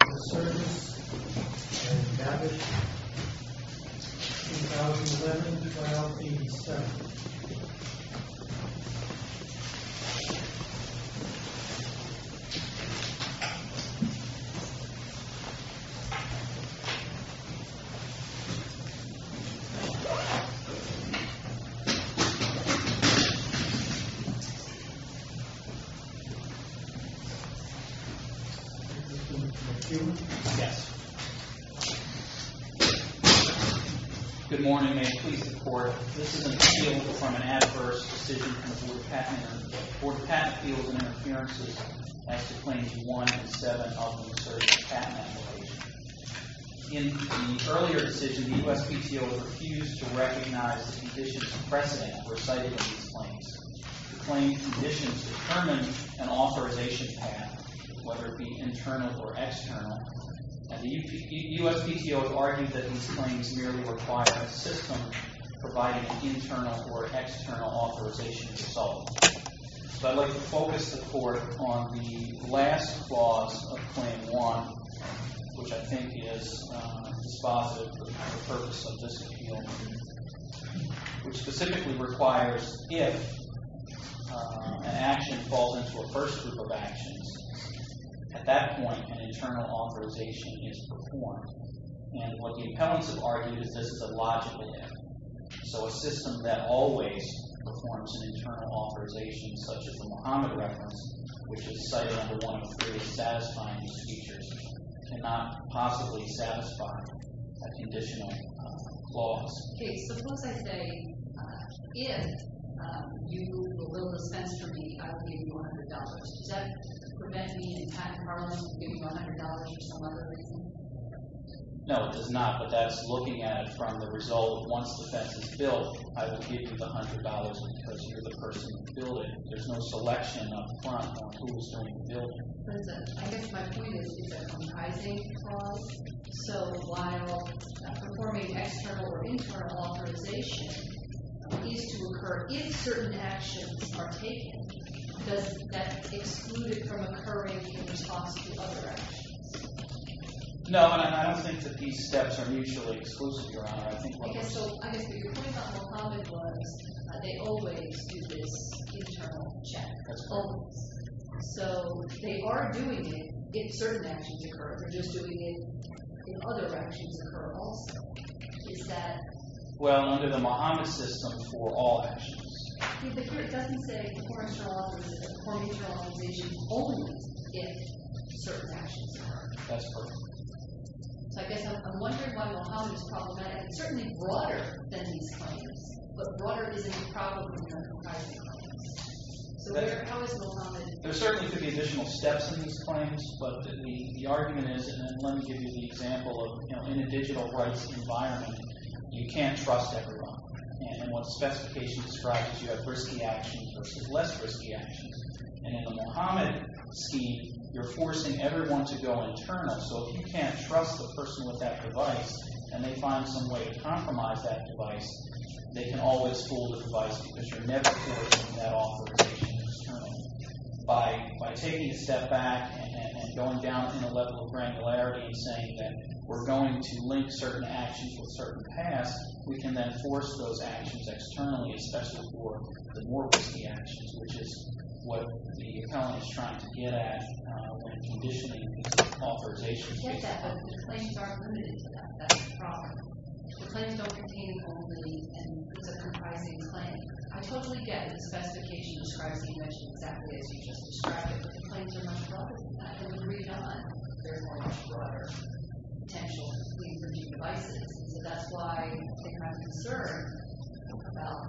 MESSERGES AND GABBET, 2011-12-87 Good morning. May I please report, this is an appeal from an adverse decision from the Board of Patent Officers. The Board of Patent Appeals and Interferences has declaimed one in seven of the Messerges patent applications. In the earlier decision, the USPTO refused to recognize the conditions and precedent that were cited in these claims. The claim conditions determine an authorization path, whether it be internal or external, and the USPTO has argued that these claims merely require a system providing internal or external authorization itself. So I'd like to focus the Court on the last clause of Claim 1, which I think is dispositive of the purpose of this appeal, which specifically requires if an action falls into a first group of actions, at that point an internal authorization is performed. And what the appellants have argued is this is a logical thing. So a system that always performs an internal authorization, such as the Muhammad Reference, which is cited under 1.3, satisfying these features, cannot possibly satisfy a conditional clause. Okay, so suppose I say, if you will dispense for me, I will give you $100. Does that prevent me in patent parlance from giving you $100 for some other reason? No, it does not, but that's looking at it from the result that once the fence is built, I will give you the $100 because you're the person who built it. There's no selection up front on who's going to build it. I guess my point is, it's a comprising clause. So while performing external or internal authorization needs to occur if certain actions are taken, does that exclude it from occurring in response to other actions? No, and I don't think that these steps are mutually exclusive, Your Honor. Okay, so I guess your point about Muhammad was that they always do this internal check. That's always. So they are doing it if certain actions occur. They're just doing it if other actions occur all the time. Is that... Well, under the Muhammad system, for all actions. But here it doesn't say, perform external or internal authorization only if certain actions occur. That's correct. So I guess I'm wondering why Muhammad is problematic. It's certainly broader than these claims, but broader isn't a problem when you're on comprising claims. So how is Muhammad... There certainly could be additional steps in these claims, but the argument is, and let me give you the example of, you know, in a digital rights environment, you can't trust everyone. And what the specification describes is you have risky actions versus less risky actions. And in the Muhammad scheme, you're forcing everyone to go internal. So if you can't trust the person with that device, and they find some way to compromise that device, they can always fool the device because you're never closing that authorization externally. By taking a step back and going down to the level of granularity and saying that we're going to link certain actions with certain paths, we can then force those actions externally, especially for the more risky actions, which is what the economy is trying to get at when conditioning these authorizations. I get that, but the claims aren't limited to that. That's the problem. The claims don't contain only a comprising claim. I totally get that the specification describes the invention exactly as you just described it, but the claims are much broader. And when we read on, there's much broader potential to plead for new devices. And so that's why I think I'm concerned about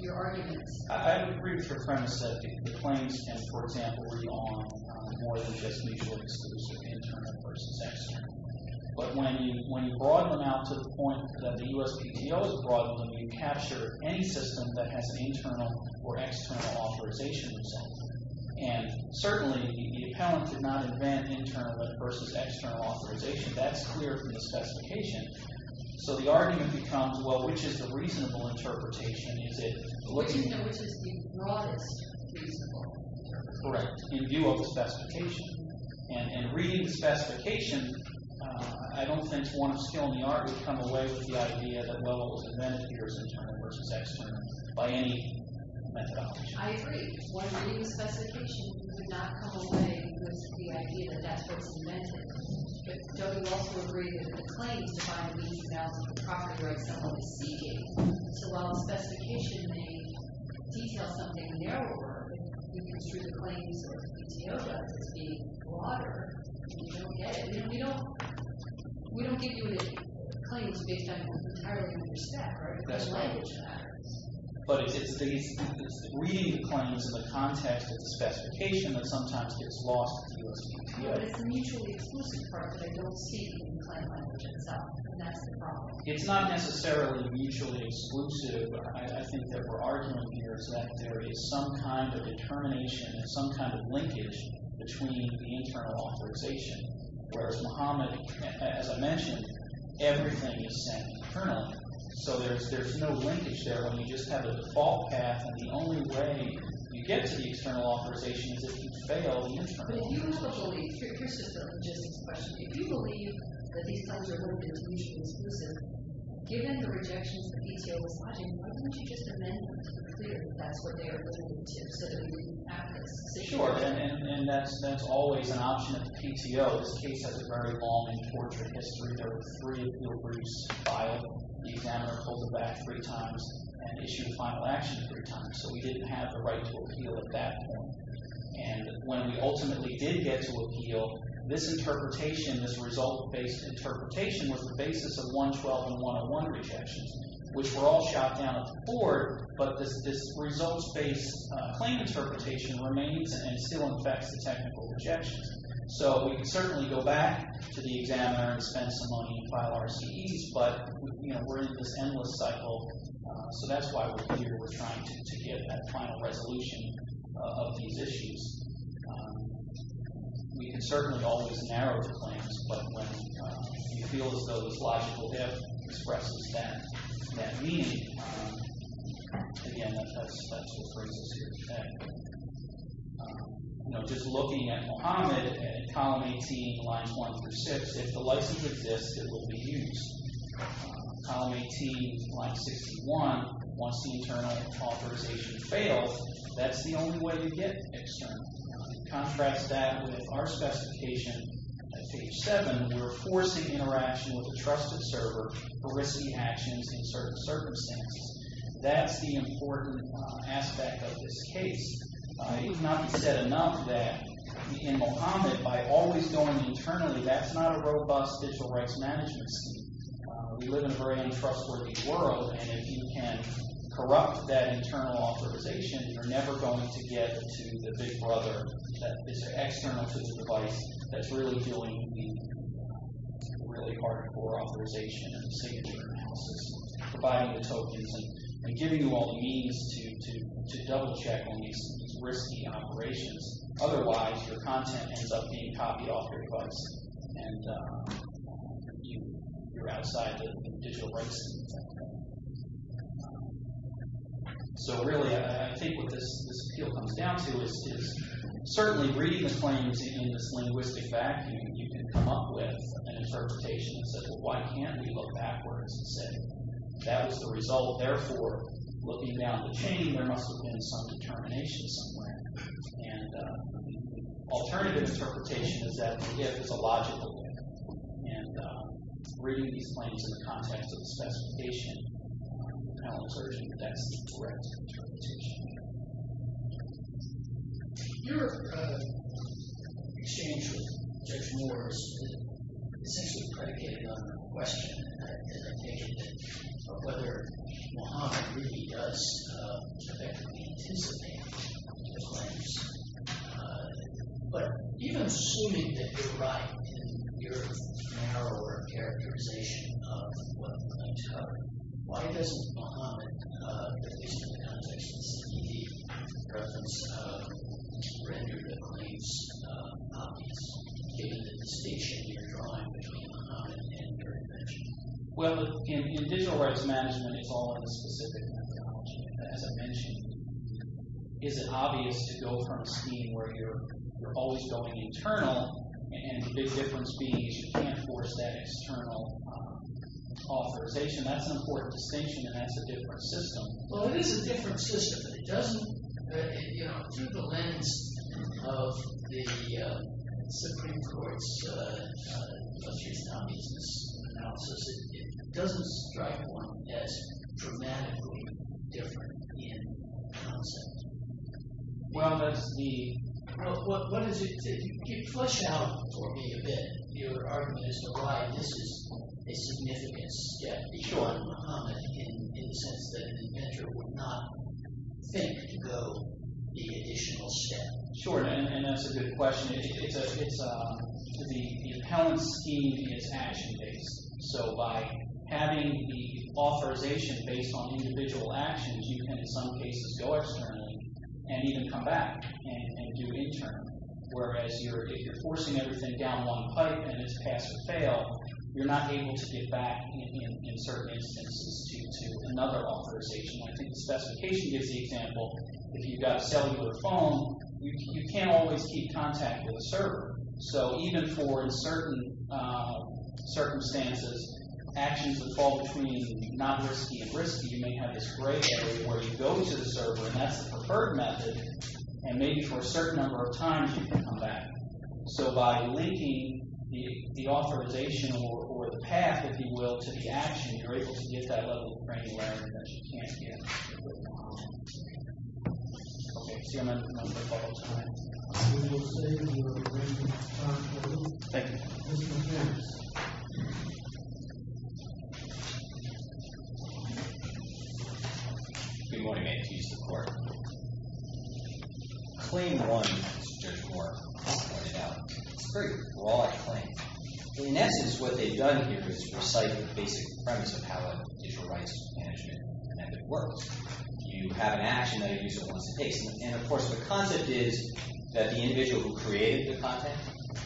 your arguments. I would agree with your premise that the claims can, for example, read on more than just mutual exclusive internal versus external. But when you broaden them out to the point that the USPTO has broadened them, you capture any system that has an internal or external authorization. And certainly the appellant did not invent internal versus external authorization. That's clear from the specification. So the argument becomes, well, which is the reasonable interpretation? Is it what you mean? Which is the broadest reasonable interpretation. Correct, in view of the specification. And reading the specification, I don't think one of skill in the art would come away with the idea that, well, it was invented here as internal versus external by any methodology. I agree. One reading the specification would not come away with the idea that that's what's invented. But don't you also agree that the claims defined in the 2000 Property Rights Assembly C.A. So while the specification may detail something narrower, it gives you the claims of the details as being broader than the USPTO. We don't give you the claims based on entirely what you expect, right? That's right. Language matters. But it's reading the claims in the context of the specification that sometimes gets lost in the USPTO. But it's a mutually exclusive part that I don't see in the claim language itself. And that's the problem. It's not necessarily mutually exclusive. But I think that our argument here is that there is some kind of determination, some kind of linkage between the internal authorization. Whereas Muhammad, as I mentioned, everything is set internally. So there's no linkage there when you just have a default path. And the only way you get to the external authorization is if you fail the internal authorization. But if you as a judge will restrict your system, just as a question, if you believe that these claims are both mutually exclusive, given the rejections the PTO is funding, why don't you just amend them to be clear that that's what they are going to do so that we can have this situation? Sure, and that's always an option of the PTO. This case has a very long and tortured history. There were three briefs filed. The examiner pulled them back three times and issued a final action three times. So we didn't have the right to appeal at that point. And when we ultimately did get to appeal, this interpretation, this result-based interpretation was the basis of 112 and 101 rejections, which were all shot down at the board. But this results-based claim interpretation remains and still affects the technical rejections. So we can certainly go back to the examiner and spend some money and file RCEs. But we're in this endless cycle. So that's why we're here. We're trying to get that final resolution of these issues. We can certainly always narrow the claims. But when you feel as though this logical dip expresses that meaning, again, that's what brings us here today. Just looking at Mohammed in column 18, lines 1 through 6, if the license exists, it will be used. Column 18, line 61, once the internal authorization fails, that's the only way to get external. Contrast that with our specification at page 7. We're forcing interaction with a trusted server for risky actions in certain circumstances. That's the important aspect of this case. It cannot be said enough that in Mohammed, by always going internally, that's not a robust digital rights management scheme. We live in a very untrustworthy world, and if you can corrupt that internal authorization, you're never going to get to the big brother that is external to the device that's really doing the really hardcore authorization and signature analysis, providing the tokens and giving you all the means to double-check on these risky operations. Otherwise, your content ends up being copied off your device, and you're outside the digital rights scheme. So really, I think what this appeal comes down to is certainly reading the claims in this linguistic vacuum, and you can come up with an interpretation that says, well, why can't we look backwards and say, that was the result, therefore, looking down the chain, there must have been some determination somewhere. And alternative interpretation is that the GIF is a logical GIF. And reading these claims in the context of the specification kind of asserts that that's the correct interpretation. Your exchange with Judge Moore is essentially predicated on the question, and I take it, of whether Mohammed really does effectively intensify digital literacy. But even assuming that you're right in your narrow characterization of what claims cover, why doesn't Mohammed, at least in the conversations that he gave, have the preference to render the claims obvious, given the distinction you're drawing between Mohammed and your invention? Well, in digital rights management, it's all in a specific methodology. As I mentioned, is it obvious to go from a scheme where you're always going internal, and the big difference being is you can't force that external authorization. That's an important distinction, and that's a different system. Well, it is a different system, but it doesn't, you know, through the lens of the Supreme Court's constitutional business analysis, it doesn't strike one as dramatically different in concept. Well, that's the – what is it – if you flush out for me a bit your argument as to why this is a significant step, it would be short for Mohammed in the sense that an inventor would not think to go the additional step. Sure, and that's a good question. It's a – the appellant scheme is action-based, so by having the authorization based on individual actions, you can in some cases go externally and even come back and do it in turn, whereas if you're forcing everything down one pipe and it's pass or fail, you're not able to get back in certain instances to another authorization. I think the specification gives the example. If you've got a cellular phone, you can't always keep contact with the server, so even for in certain circumstances, actions would fall between not risky and risky. You may have this gray area where you go to the server, and that's the preferred method, and maybe for a certain number of times you can come back. So by linking the authorization or the path, if you will, to the action, you're able to get that level of granularity that you can't get with Mohammed. Okay, see I'm out of time. I'll see you in a little bit. Thank you. We've already made it to use of court. Claim one, as Judge Moore pointed out, is a very broad claim. In essence, what they've done here is recite the basic premise of how a digital rights management method works. You have an action that a user wants to take, and, of course, the concept is that the individual who created the content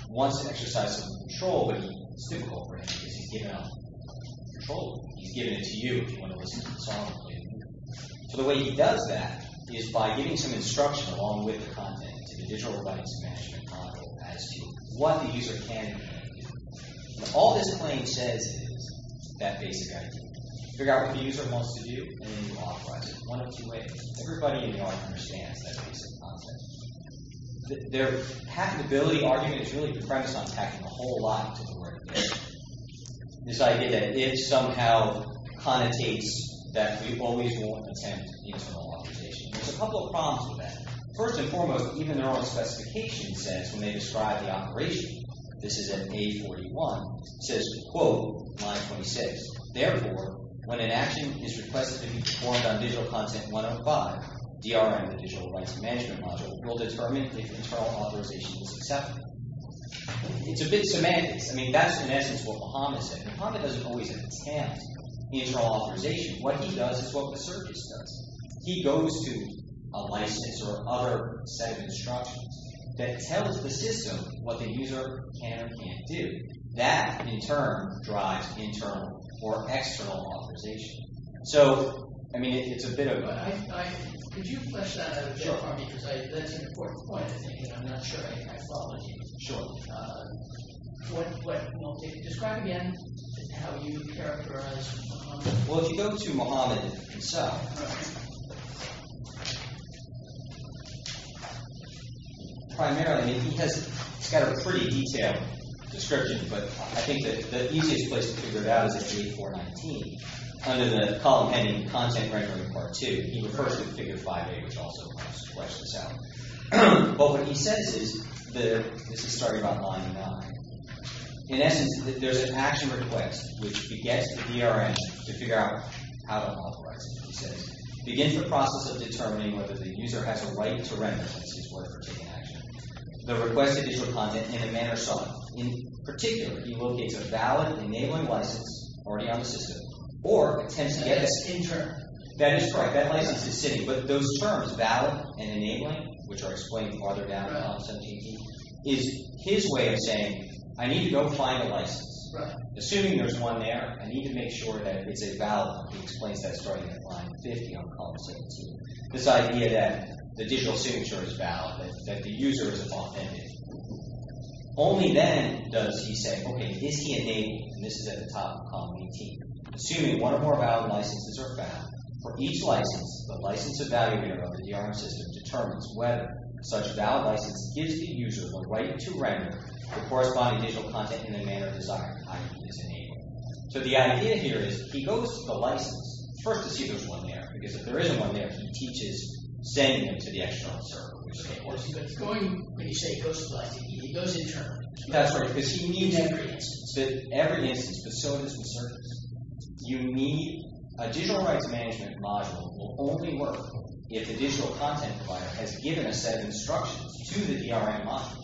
wants to exercise some control, but it's difficult for him because he's given up control. He's given it to you if you want to listen to the song. So the way he does that is by giving some instruction along with the content to the digital rights management model as to what the user can and cannot do. All this claim says is that basic idea. Figure out what the user wants to do, and then you authorize it. One of two ways. Everybody in the audience understands that basic concept. Their patentability argument is really the premise on patching the whole lot to the word patent. This idea that it somehow connotates that we always will attempt the internal authorization. There's a couple of problems with that. First and foremost, even their own specification says, when they describe the operation, this is at page 41, it says, quote, line 26, therefore, when an action is requested to be performed on digital content 105, DRM, the digital rights management module, will determine if internal authorization is acceptable. It's a bit semantic. I mean, that's in essence what Bahama said. Bahama doesn't always attempt internal authorization. What he does is what the service does. He goes to a license or other set of instructions that tells the system what the user can or can't do. That, in turn, drives internal or external authorization. So, I mean, it's a bit of a— Could you flesh that out a bit for me? Sure. Because that's an important point, I think, and I'm not sure I follow it. Sure. Describe again how you characterize Bahama. Well, if you go to Bahama itself, primarily, I mean, he's got a pretty detailed description, but I think the easiest place to figure it out is at page 419, under the column ending content rendering part 2. He refers to figure 5A, which also helps flesh this out. But what he says is—this is starting about line 9. In essence, there's an action request which begets the DRM to figure out how to authorize it. He begins the process of determining whether the user has a right to render, which is his word for taking action. The request is for content in a manner soft. In particular, he locates a valid enabling license already on the system, or attempts to get a skin term. That is correct. That license is sitting. But those terms, valid and enabling, which are explained farther down in option 18, is his way of saying, I need to go find a license. Assuming there's one there, I need to make sure that it's a valid one. He explains that starting at line 50 on column 17. This idea that the digital signature is valid, that the user is authentic. Only then does he say, okay, is he enabled? This is at the top of column 18. Assuming one or more valid licenses are found, for each license, the license evaluator of the DRM system determines whether such a valid license gives the user the right to render the corresponding digital content in a manner desired. So the idea here is, he goes to the license, first to see if there's one there. Because if there is one there, he teaches sending them to the external server. Or he's going, when you say he goes to the license, he goes in turn. That's right, because he needs every instance. Every instance, facilities and services. You need, a digital rights management module will only work if the digital content provider has given a set of instructions to the DRM module.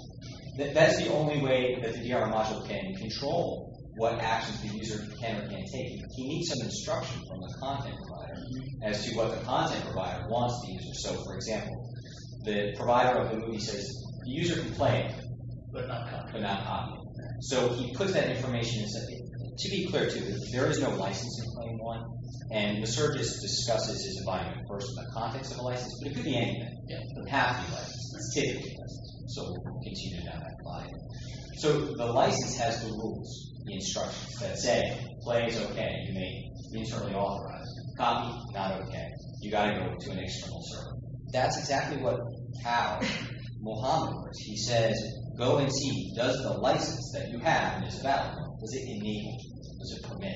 That's the only way that the DRM module can control what actions the user can or can't take. He needs some instruction from the content provider as to what the content provider wants the user. So, for example, the provider of the movie says, the user can play it, but not copy it. So he puts that information, and says, to be clear to you, if there is no license in plane 1, and the service discusses his environment first in the context of the license, it could be anything. It doesn't have to be licensed. It's typically licensed, so we'll continue down that line. So the license has the rules, the instructions that say, play is okay, you may be internally authorized. Copy, not okay. You've got to go to an external server. That's exactly how Mohammed works. He says, go and see, does the license that you have in this background, does it enable, does it permit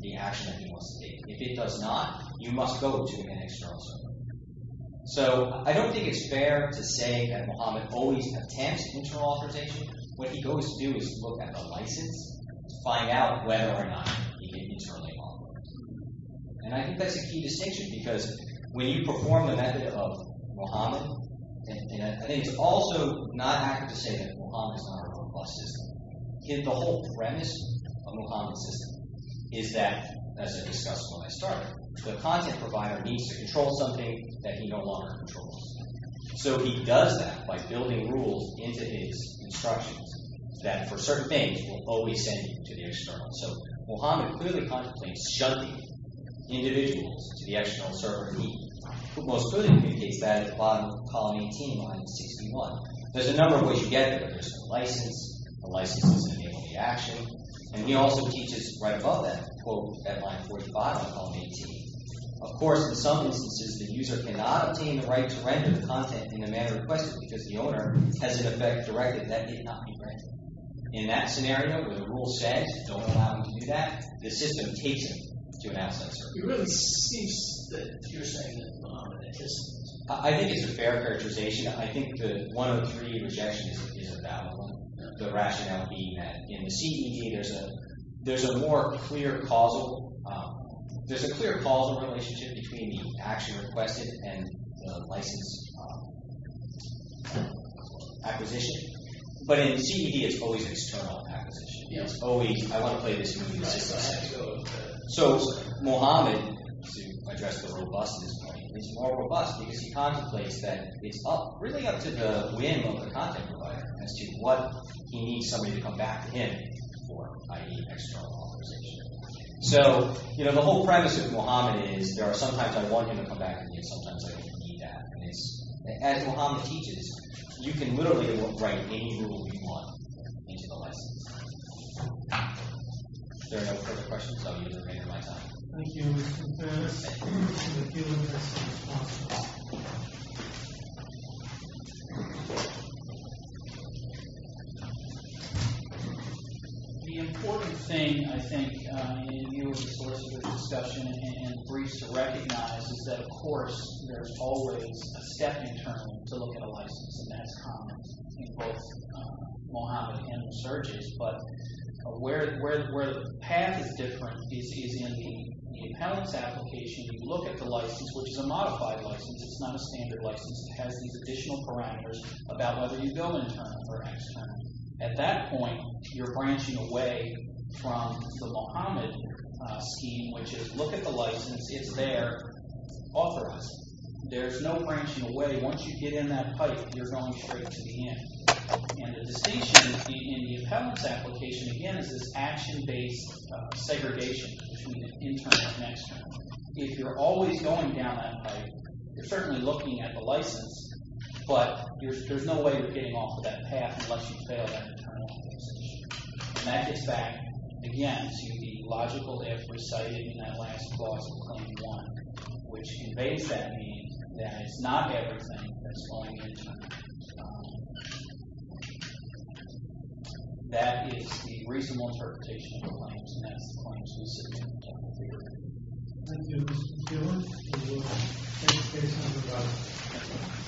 the action that you want to take? If it does not, you must go to an external server. So, I don't think it's fair to say that Mohammed always attempts internal authorization. What he goes to do is look at the license to find out whether or not he can internally authorize. And I think that's a key distinction, because when you perform the method of Mohammed, and it's also not accurate to say that Mohammed is not a request system. The whole premise of Mohammed's system is that, as I discussed when I started, the content provider needs to control something that he no longer controls. So he does that by building rules into his instructions that, for certain things, will always send you to the external server. Mohammed clearly contemplates shutting individuals to the external server, who most clearly indicates that at the bottom of column 18, line 61. There's a number of ways you get there. There's the license, the license doesn't enable the action, and he also teaches right above that, quote, at line 45 of column 18. Of course, in some instances, the user cannot obtain the right to render the content in the manner requested, because the owner has an effect directly, and that need not be granted. In that scenario, where the rule says, don't allow him to do that, the system takes him to an outside server. It really seems that you're saying that Mohammed just... I think it's a fair characterization. I think that one of the three rejections is about the rationale being that in the CED, there's a more clear causal relationship between the action requested and the license acquisition. But in CED, it's always an external acquisition. It's always, I want to play this with you guys. So Mohammed, to address the robustness point, is more robust because he contemplates that it's really up to the whim of the content provider as to what he needs somebody to come back to him for, i.e., external authorization. So, you know, the whole premise of Mohammed is there are some times I want him to come back to me, and sometimes I don't need that. As Mohammed teaches, you can literally write any rule you want into the license. If there are no further questions, I'll use the remainder of my time. Thank you. The important thing, I think, in your sources of discussion and briefs to recognize is that, of course, there's always a step in term to look at a license, and that's common in both Mohammed and the searches. But where the path is different, he sees in the appellant's application, you look at the license, which is a modified license. It's not a standard license. It has these additional parameters about whether you go internal or external. At that point, you're branching away from the Mohammed scheme, which is look at the license. It's there, authorized. There's no branching away. Once you get in that pipe, you're going straight to the end. And the distinction in the appellant's application, again, is this action-based segregation between internal and external. If you're always going down that pipe, you're certainly looking at the license, but there's no way you're getting off of that path unless you fail that internal decision. And that gets back, again, to the logical if recited in that last clause of Claim 1, which conveys that mean that it's not everything that's going into it. That is the reasonable interpretation of the claims, and that's the claims we submit in the technical theory. Thank you, Mr. Taylor. Thank you. Thank you.